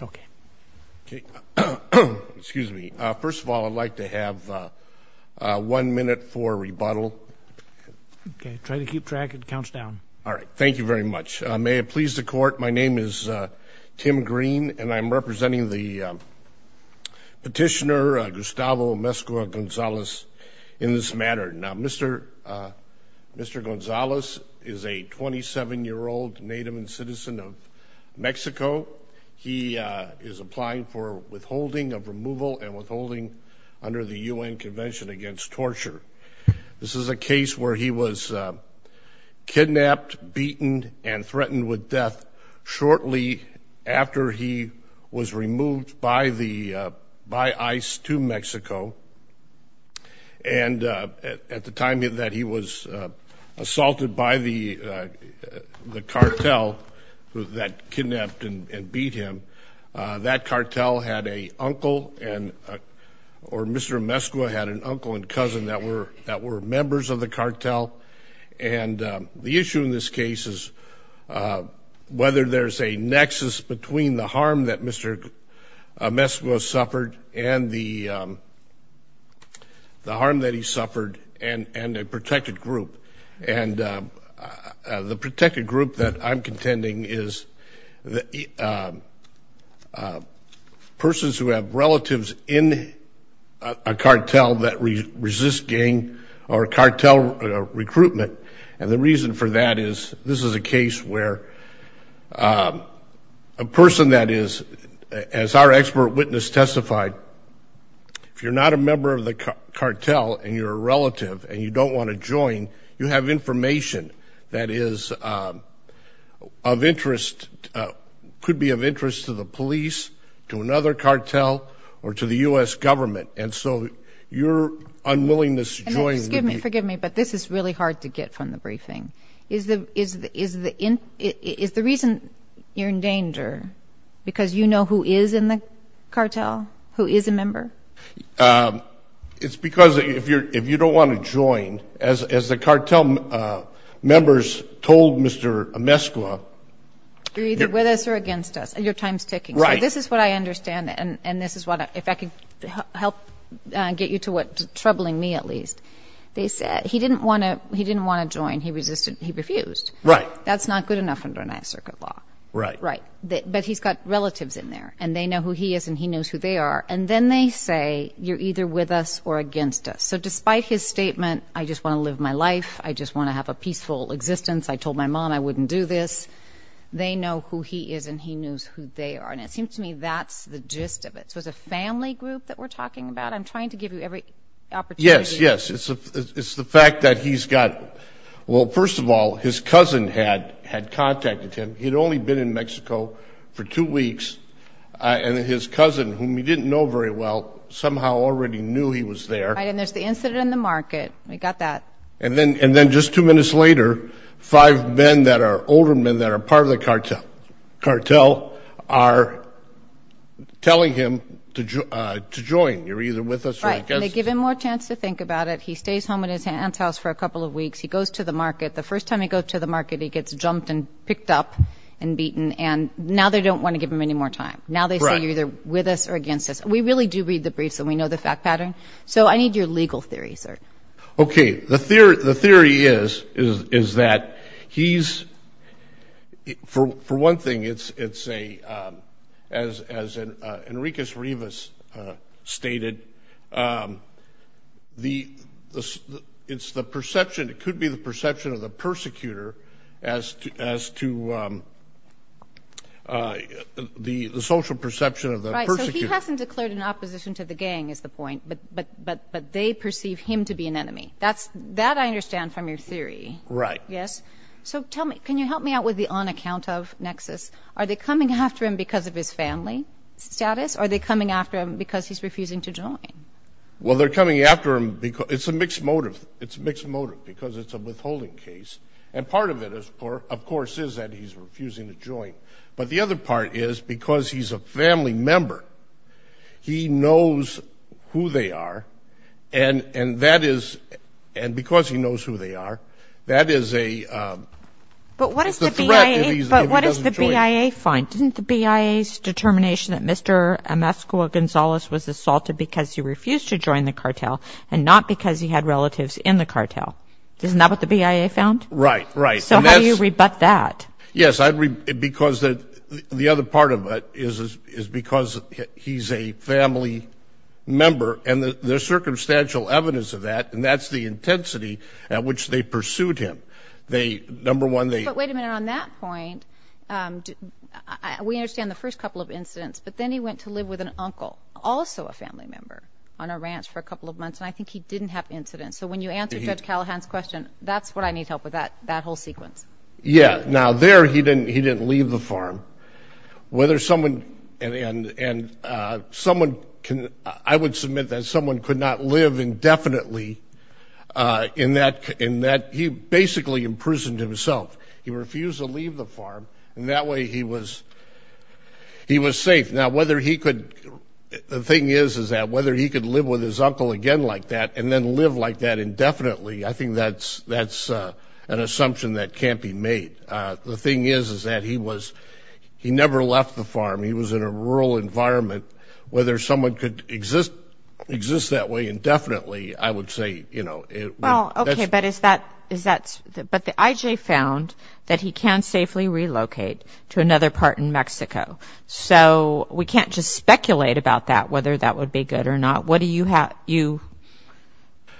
Okay. Okay. Excuse me. First of all, I'd like to have one minute for rebuttal. Okay. Try to keep track. It counts down. All right. Thank you very much. May it please the court. My name is Tim Green and I'm representing the petitioner Gustavo Amezcua Gonzalez in this matter. Now, Mr. Gonzalez is a 27-year-old native and citizen of Mexico. He is applying for withholding of removal and withholding under the UN Convention Against Torture. This is a case where he was kidnapped, beaten, and threatened with death shortly after he was removed by ICE to Mexico. And at the time that he was assaulted by the cartel that kidnapped and beat him, that cartel had a uncle or Mr. Amezcua had an uncle and cousin that were members of the cartel. And the issue in this case is whether there's a nexus between the harm that Mr. Amezcua suffered and the harm that he suffered and a protected group. And the protected group that I'm contending is persons who have relatives in a cartel that resist gang or cartel recruitment. And the reason for that is this is a case where a person that is, as our expert witness testified, if you're not a member of the cartel and you're a relative and you don't want to join, you have information that is of interest, could be of interest to the police, to another cartel, or to the U.S. government. And so your unwillingness to join... Forgive me, but this is really hard to get from the briefing. Is the reason you're in danger because you know who is in the cartel, who is a member? It's because if you don't want to join, as the cartel members told Mr. Amezcua... You're either with us or against us. Your time's ticking. So this is what I understand. And this they said, he didn't want to join. He resisted. He refused. That's not good enough under ninth circuit law. But he's got relatives in there and they know who he is and he knows who they are. And then they say, you're either with us or against us. So despite his statement, I just want to live my life. I just want to have a peaceful existence. I told my mom I wouldn't do this. They know who he is and he knows who they are. And it seems to me that's the gist of it. So it's a family group that we're talking about. I'm trying to give you every opportunity. Yes, yes. It's the fact that he's got... Well, first of all, his cousin had contacted him. He'd only been in Mexico for two weeks. And his cousin, whom he didn't know very well, somehow already knew he was there. And there's the incident in the market. We got that. And then just two minutes later, five men that are older men that are part of the cartel are telling him to join. You're either with us or against us. Right. And they give him more chance to think about it. He stays home in his aunt's house for a couple of weeks. He goes to the market. The first time he goes to the market, he gets jumped and picked up and beaten. And now they don't want to give him any more time. Now they say, you're either with us or against us. We really do read the briefs and we know the fact pattern. So I need your legal theory, sir. Okay. The theory is that he's... For one thing, it's a... As Enriquez Rivas stated, it's the perception. It could be the perception of the persecutor as to the social perception of the persecutor. Right. So he hasn't declared an opposition to the gang is the point. But they perceive him to be an enemy. That I understand from your theory. Right. Yes. So tell me, can you help me out with the on account of Nexus? Are they coming after him because of his family status or are they coming after him because he's refusing to join? Well, they're coming after him because... It's a mixed motive. It's a mixed motive because it's a withholding case. And part of it, of course, is that he's refusing to join. But the other part is because he's a family member, he knows who they are and that is... And because he knows who they are, that is a threat if he doesn't join. But what does the BIA find? Didn't the BIA's determination that Mr. Emascula-Gonzalez was assaulted because he refused to join the cartel and not because he had relatives in the cartel? Isn't that what the BIA found? Right. Right. So how do you rebut that? Yes, because the other part of it is because he's a family member and there's circumstantial evidence of that and that's the intensity at which they pursued him. Number one, they... But wait a minute. On that point, we understand the first couple of incidents, but then he went to live with an uncle, also a family member, on a ranch for a couple of months and I think he didn't have incidents. So when you answer Judge Callahan's question, that's what I need help with, that whole sequence. Yeah. Now there, he didn't leave the farm. Whether someone... And I would submit that someone could not live indefinitely in that... He basically imprisoned himself. He refused to leave the farm and that way he was safe. Now whether he could... The thing is, is that whether he could live with his uncle again like that and then live like that indefinitely, I think that's an assumption that can't be made. The thing is, is that he was... He never left the farm. He was in a rural environment. Whether someone could exist that way indefinitely, I would say, you know... Well, okay, but is that... But the IJ found that he can safely relocate to another part in Mexico. So we can't just speculate about that, whether that would be good or not. What do you have...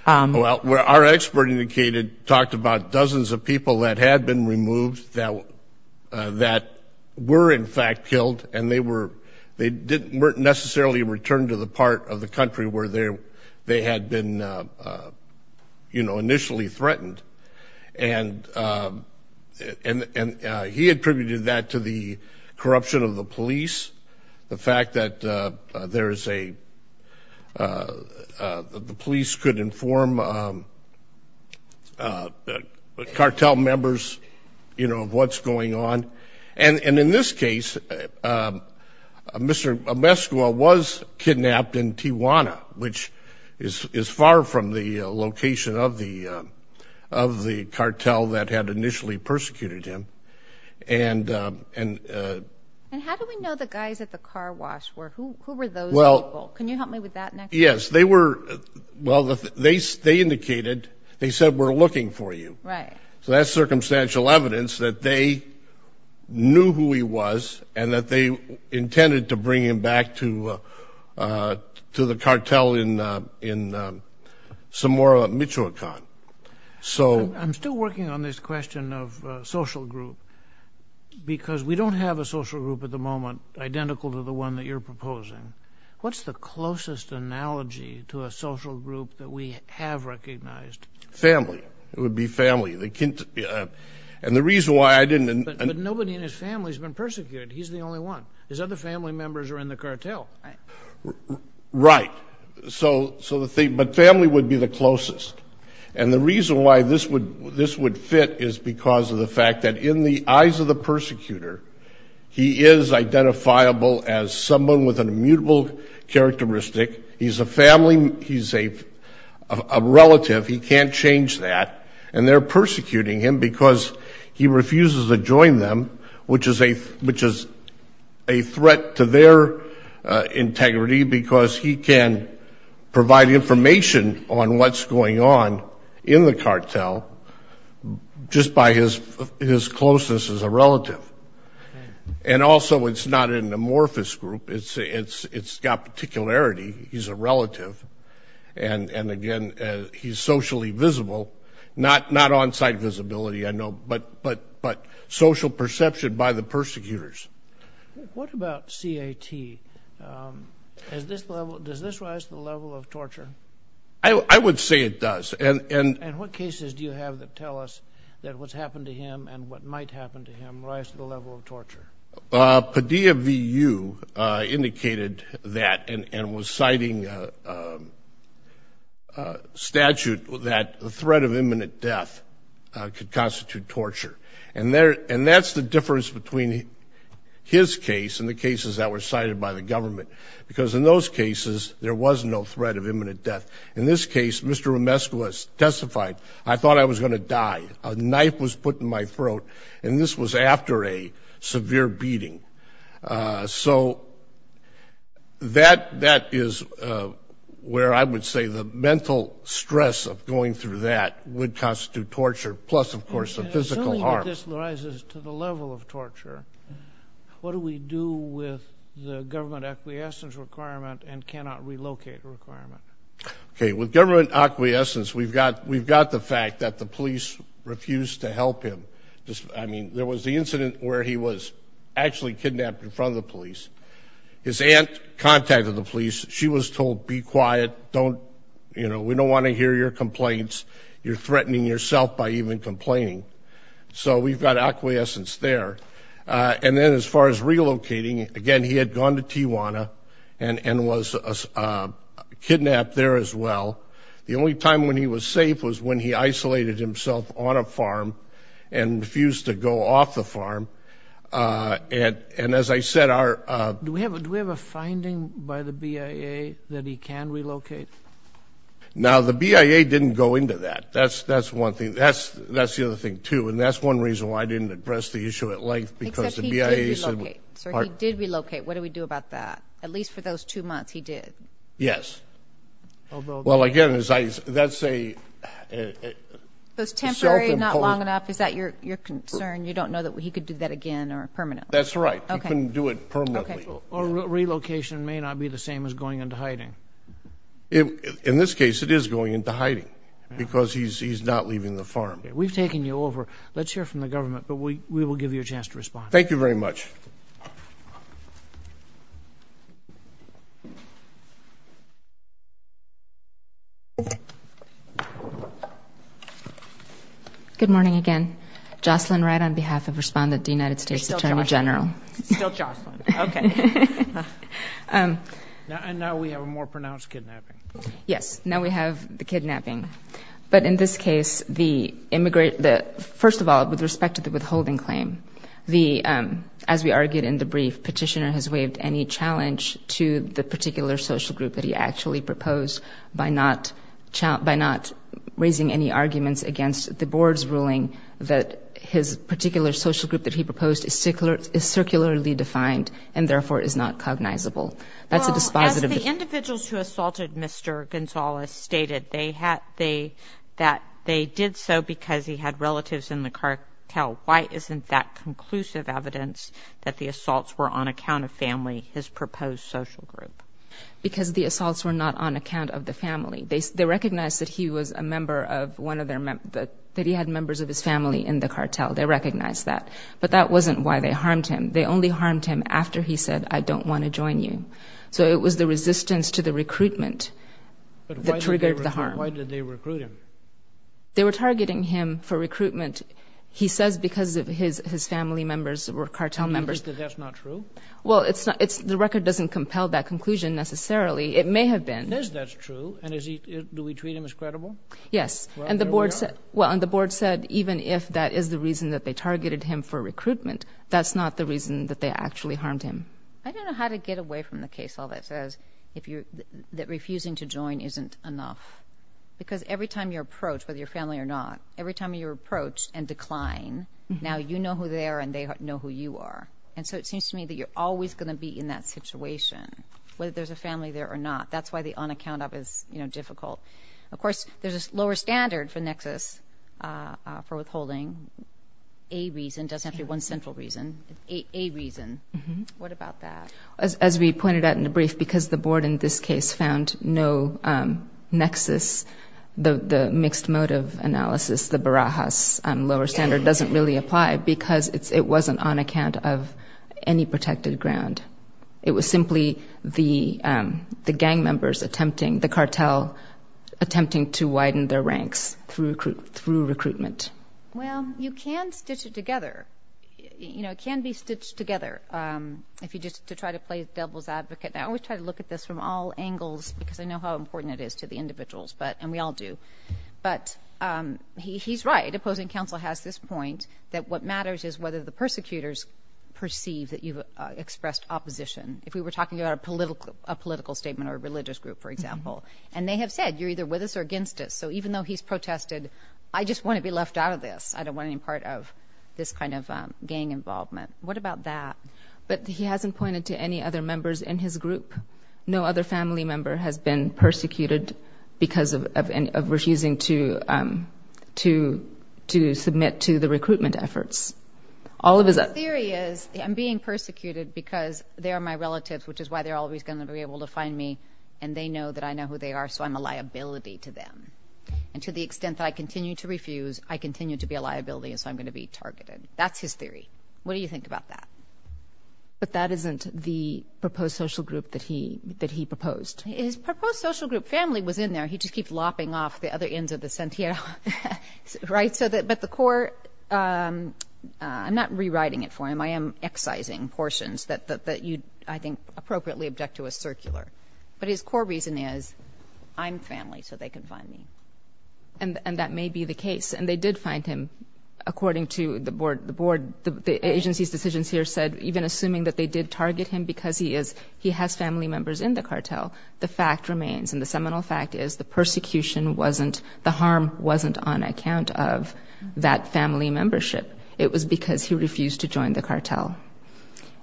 Well, our expert indicated, talked about dozens of people that had been removed that were in fact killed and they were... They didn't necessarily return to the part of the country where they had been, you know, initially threatened. And he attributed that to the cartel members, you know, of what's going on. And in this case, Mr. Omezcua was kidnapped in Tijuana, which is far from the location of the cartel that had initially persecuted him. And... And how do we know the guys at the car wash were... Who were those people? Can you help me with that next? Yes, they were... Well, they indicated, they said, we're looking for you. Right. So that's circumstantial evidence that they knew who he was and that they intended to bring him back to the cartel in Zamora, Michoacan. So... I'm still working on this question of social group, because we don't have a social group at the moment identical to the one that you're proposing. What's the closest analogy to a social group that we have recognized? Family. It would be family. They can't... And the reason why I didn't... But nobody in his family has been persecuted. He's the only one. His other family members are in the cartel. Right. So the thing... But family would be the closest. And the reason why this would fit is because of the fact that in the eyes of the persecutor, he is identifiable as someone with an immutable characteristic. He's a family... He's a relative. He can't change that. And they're persecuting him because he refuses to join them, which is a threat to their integrity, because he can provide information on what's going on in the cartel just by his closeness as a relative. And also, it's not an amorphous group. It's got particularity. He's a relative. And again, he's socially visible. Not on-site visibility, I know, but social perception by the persecutors. What about C.A.T.? Does this rise to the level of torture? I would say it does. And... And what cases do you have that tell us that what's happened to him and what might happen to him rise to the level of torture? Padilla V.U. indicated that and was citing a statute that the threat of imminent death could constitute torture. And that's the difference between his case and the cases that were cited by the government. Because in those cases, there was no threat of imminent death. In this case, Mr. Romescu has testified, I thought I was going to die. A knife was put in my throat, and this was after a severe beating. So that is where I would say the mental stress of going through that would constitute torture, plus, of course, the physical harm. Assuming that this rises to the level of torture, what do we do with the government acquiescence requirement and cannot relocate requirement? Okay, with government acquiescence, we've got the fact that the police refused to help him. I mean, there was the incident where he was actually kidnapped in front of the police. His aunt contacted the police. She was told, be quiet. We don't want to hear your complaints. You're threatening yourself by even complaining. So we've got acquiescence there. And then as far as relocating, again, he had gone to Tijuana and was kidnapped there as well. The only time when he was safe was when he isolated himself on a farm and refused to go off the farm. And as I said, our... Do we have a finding by the BIA that he can relocate? Now, the BIA didn't go into that. That's one thing. That's the other thing, too. And that's one reason why I didn't address the issue at length, because the BIA said... Except he did relocate. Sir, he did relocate. What do we do about that? At least for those two months, he did. Yes. Although... Well, again, that's a... It's temporary, not long enough. Is that your concern? You don't know that he could do that again or permanently? That's right. He couldn't do it permanently. Or relocation may not be the same as going into hiding. In this case, it is going into hiding, because he's not leaving the farm. We've taken you over. Let's hear from the government, but we will give you a chance to respond. Thank you very much. Good morning again. Jocelyn Wright on behalf of Respondent, the United States Attorney General. Still Jocelyn. Okay. Now we have a more pronounced kidnapping. Yes. Now we have the kidnapping. But in this case, the immigrant... First of all, with respect to the withholding claim, as we argued in the brief, Petitioner has waived any challenge to the board's ruling that his particular social group that he proposed is circularly defined and therefore is not cognizable. That's a dispositive... Well, as the individuals who assaulted Mr. Gonzalez stated, that they did so because he had relatives in the cartel. Why isn't that conclusive evidence that the assaults were on account of family, his proposed social group? Because the assaults were not on account of the family. They recognized that he was a member of one of their... That he had members of his family in the cartel. They recognized that. But that wasn't why they harmed him. They only harmed him after he said, I don't want to join you. So it was the resistance to the recruitment that triggered the harm. But why did they recruit him? They were targeting him for recruitment. He says because of his family members were cartel members. And you think that that's not true? Well, the record doesn't compel that conclusion necessarily. It may have been. It is that's true. And do we treat him as credible? Yes. And the board said, well, and the board said, even if that is the reason that they targeted him for recruitment, that's not the reason that they actually harmed him. I don't know how to get away from the case all that says that refusing to join isn't enough. Because every time you're approached, whether you're family or not, every time you're approached and decline, now you know who they are and they know who you are. And so it seems to me that you're always going to be in that situation, whether there's a family there or not. That's the on account of is difficult. Of course, there's a lower standard for nexus for withholding. A reason doesn't have to be one central reason. A reason. What about that? As we pointed out in the brief, because the board in this case found no nexus, the mixed motive analysis, the Barajas lower standard doesn't really apply because it wasn't on account of any protected ground. It was simply the gang members attempting, the cartel attempting to widen their ranks through recruitment. Well, you can stitch it together. It can be stitched together. If you just to try to play the devil's advocate. I always try to look at this from all angles because I know how important it is to the individuals, and we all do. But he's right. Opposing counsel has this point that what matters is whether the persecutors perceive that you've expressed opposition. If we were talking about a political statement or a religious group, for example, and they have said you're either with us or against us. So even though he's protested, I just want to be left out of this. I don't want any part of this kind of gang involvement. What about that? But he hasn't pointed to any other members in his group. No other family member has been persecuted because of refusing to submit to the recruitment efforts. All of his theory is I'm being persecuted because they are my relatives, which is why they're always going to be able to find me. And they know that I know who they are. So I'm a liability to them. And to the extent that I continue to refuse, I continue to be a liability. And so I'm going to be targeted. That's his theory. What do you think about that? But that isn't the proposed social group that he that he proposed. His proposed social group family was in there. He just keeps lopping off the other ends of the sentinel. Right. So that but the court I'm not rewriting it for him. I am excising portions that that you I think appropriately object to a circular. But his core reason is I'm family, so they can find me. And that may be the case. And they did find him, according to the board. The board, the agency's decisions here said even assuming that they did target him because he is he has family members in the cartel. The fact remains in the seminal fact is the persecution wasn't the harm wasn't on account of that family membership. It was because he refused to join the cartel.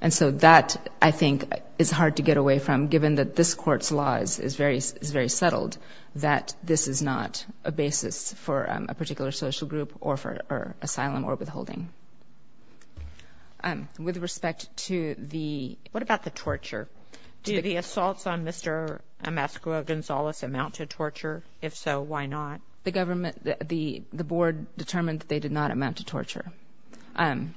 And so that I think is hard to get away from, given that this court's laws is very, is very settled, that this is not a basis for a particular social group or for asylum or withholding. And with respect to the what about the torture? Do the assaults on Mr. Emasco Gonzalez amount to torture? If so, why not? The government, the the board determined they did not amount to torture. And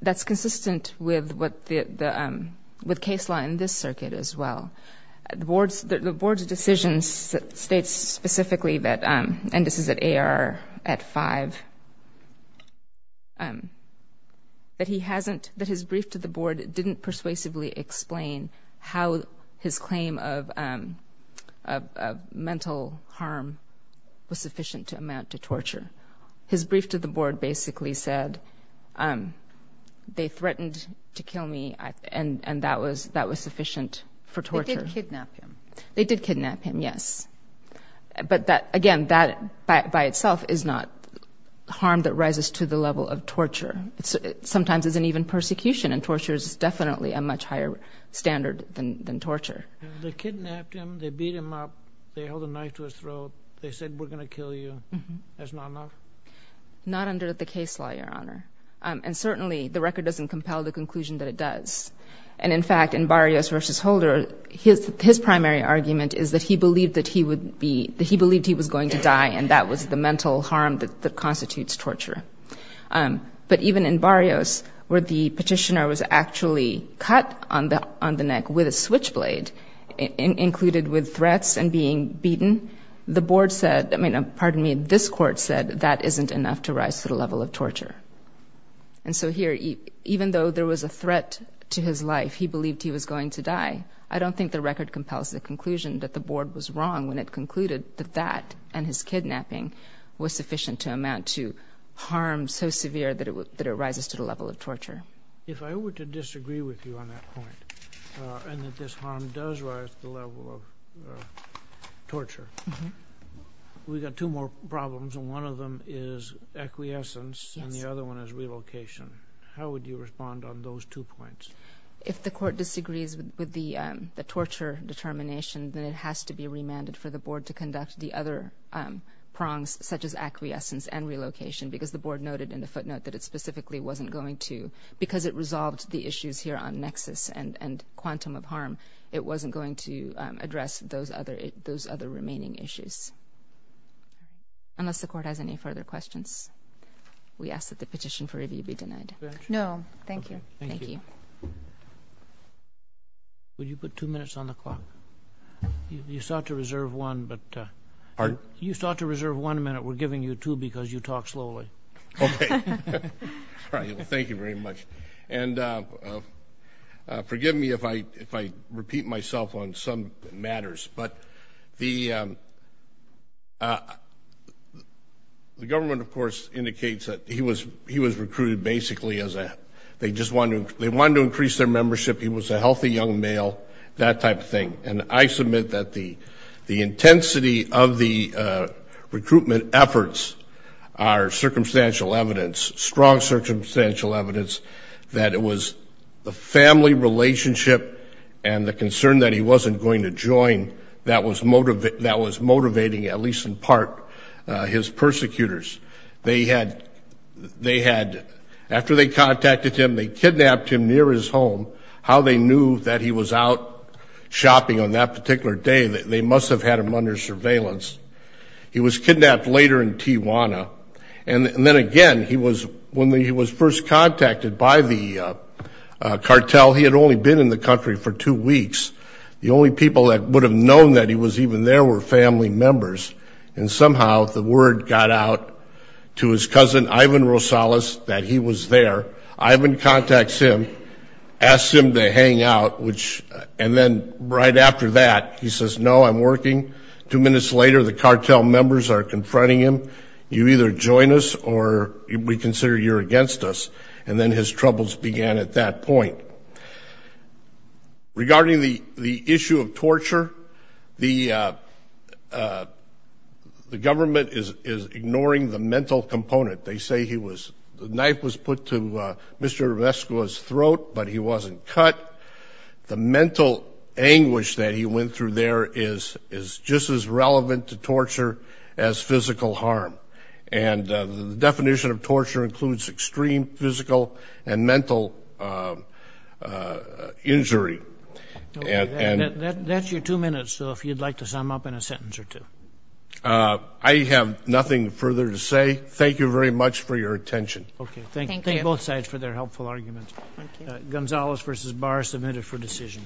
that's consistent with what the with case law in this circuit as well. The board's the board's decisions states specifically that and this is at five that he hasn't that his brief to the board didn't persuasively explain how his claim of mental harm was sufficient to amount to torture. His brief to the board basically said they threatened to kill me. And that was that was sufficient for torture. They did kidnap him. Yes. But that again, that by itself is not harm that rises to the level of torture. It's sometimes isn't even persecution and torture is definitely a much higher standard than than torture. They kidnapped him. They beat him up. They held a knife to his throat. They said we're going to kill you. That's not enough. Not under the case law, Your Honor. And certainly the record doesn't compel the conclusion that it does. And in fact, in Barrios versus Holder, his his primary argument is that he believed that he would be that he believed he was going to die. And that was the mental harm that constitutes torture. But even in Barrios, where the petitioner was actually cut on the on the neck with a switchblade included with threats and being beaten, the board said, I mean, pardon me, this court said that isn't enough to rise to the level of torture. And so here, even though there was a threat to his life, he believed he was going to die. I don't think the record compels the conclusion that the board was wrong when it concluded that that and his kidnapping was sufficient to amount to harm so severe that it that it rises to the level of torture. If I were to disagree with you on that point and that this harm does rise to the level of torture, we've got two more problems, and one of them is acquiescence and the other one is relocation. How would you respond on those two points? If the court disagrees with the torture determination, then it has to be remanded for the board to conduct the other prongs, such as acquiescence and relocation, because the board noted in the footnote that it specifically wasn't going to because it resolved the issues here on nexus and quantum of harm. It wasn't going to address those other those other remaining issues. Unless the court has any further questions, we ask that the petition for review be denied. No, thank you. Thank you. Would you put two minutes on the clock? You sought to reserve one, but you sought to reserve one minute. We're giving you two because you talk slowly. All right. Thank you very much. And forgive me if I if I repeat myself on some matters, but the they just wanted to they wanted to increase their membership. He was a healthy young male, that type of thing. And I submit that the the intensity of the recruitment efforts are circumstantial evidence, strong circumstantial evidence that it was the family relationship and the concern that he wasn't going to join that was motivating at least in part his persecutors. They had they had after they contacted him, they kidnapped him near his home, how they knew that he was out shopping on that particular day that they must have had him under surveillance. He was kidnapped later in Tijuana. And then again, he was when he was first contacted by the cartel. He had only been in the country for two weeks. The only people that would have known that he was even there were family members. And somehow the word got out to his cousin, Ivan Rosales, that he was there. Ivan contacts him, asks him to hang out, which and then right after that, he says, no, I'm working. Two minutes later, the cartel members are confronting him. You either join us or we consider you're against us. And then his troubles began at that point. Regarding the the issue of the government is ignoring the mental component. They say he was the knife was put to Mr. Vesco's throat, but he wasn't cut. The mental anguish that he went through there is is just as relevant to torture as physical harm. And the definition of torture includes extreme physical and mental injury. And that's your two minutes. So if you'd like to sum up in a sentence or two, I have nothing further to say. Thank you very much for your attention. Okay, thank you both sides for their helpful arguments. Gonzales versus Barr submitted for decision.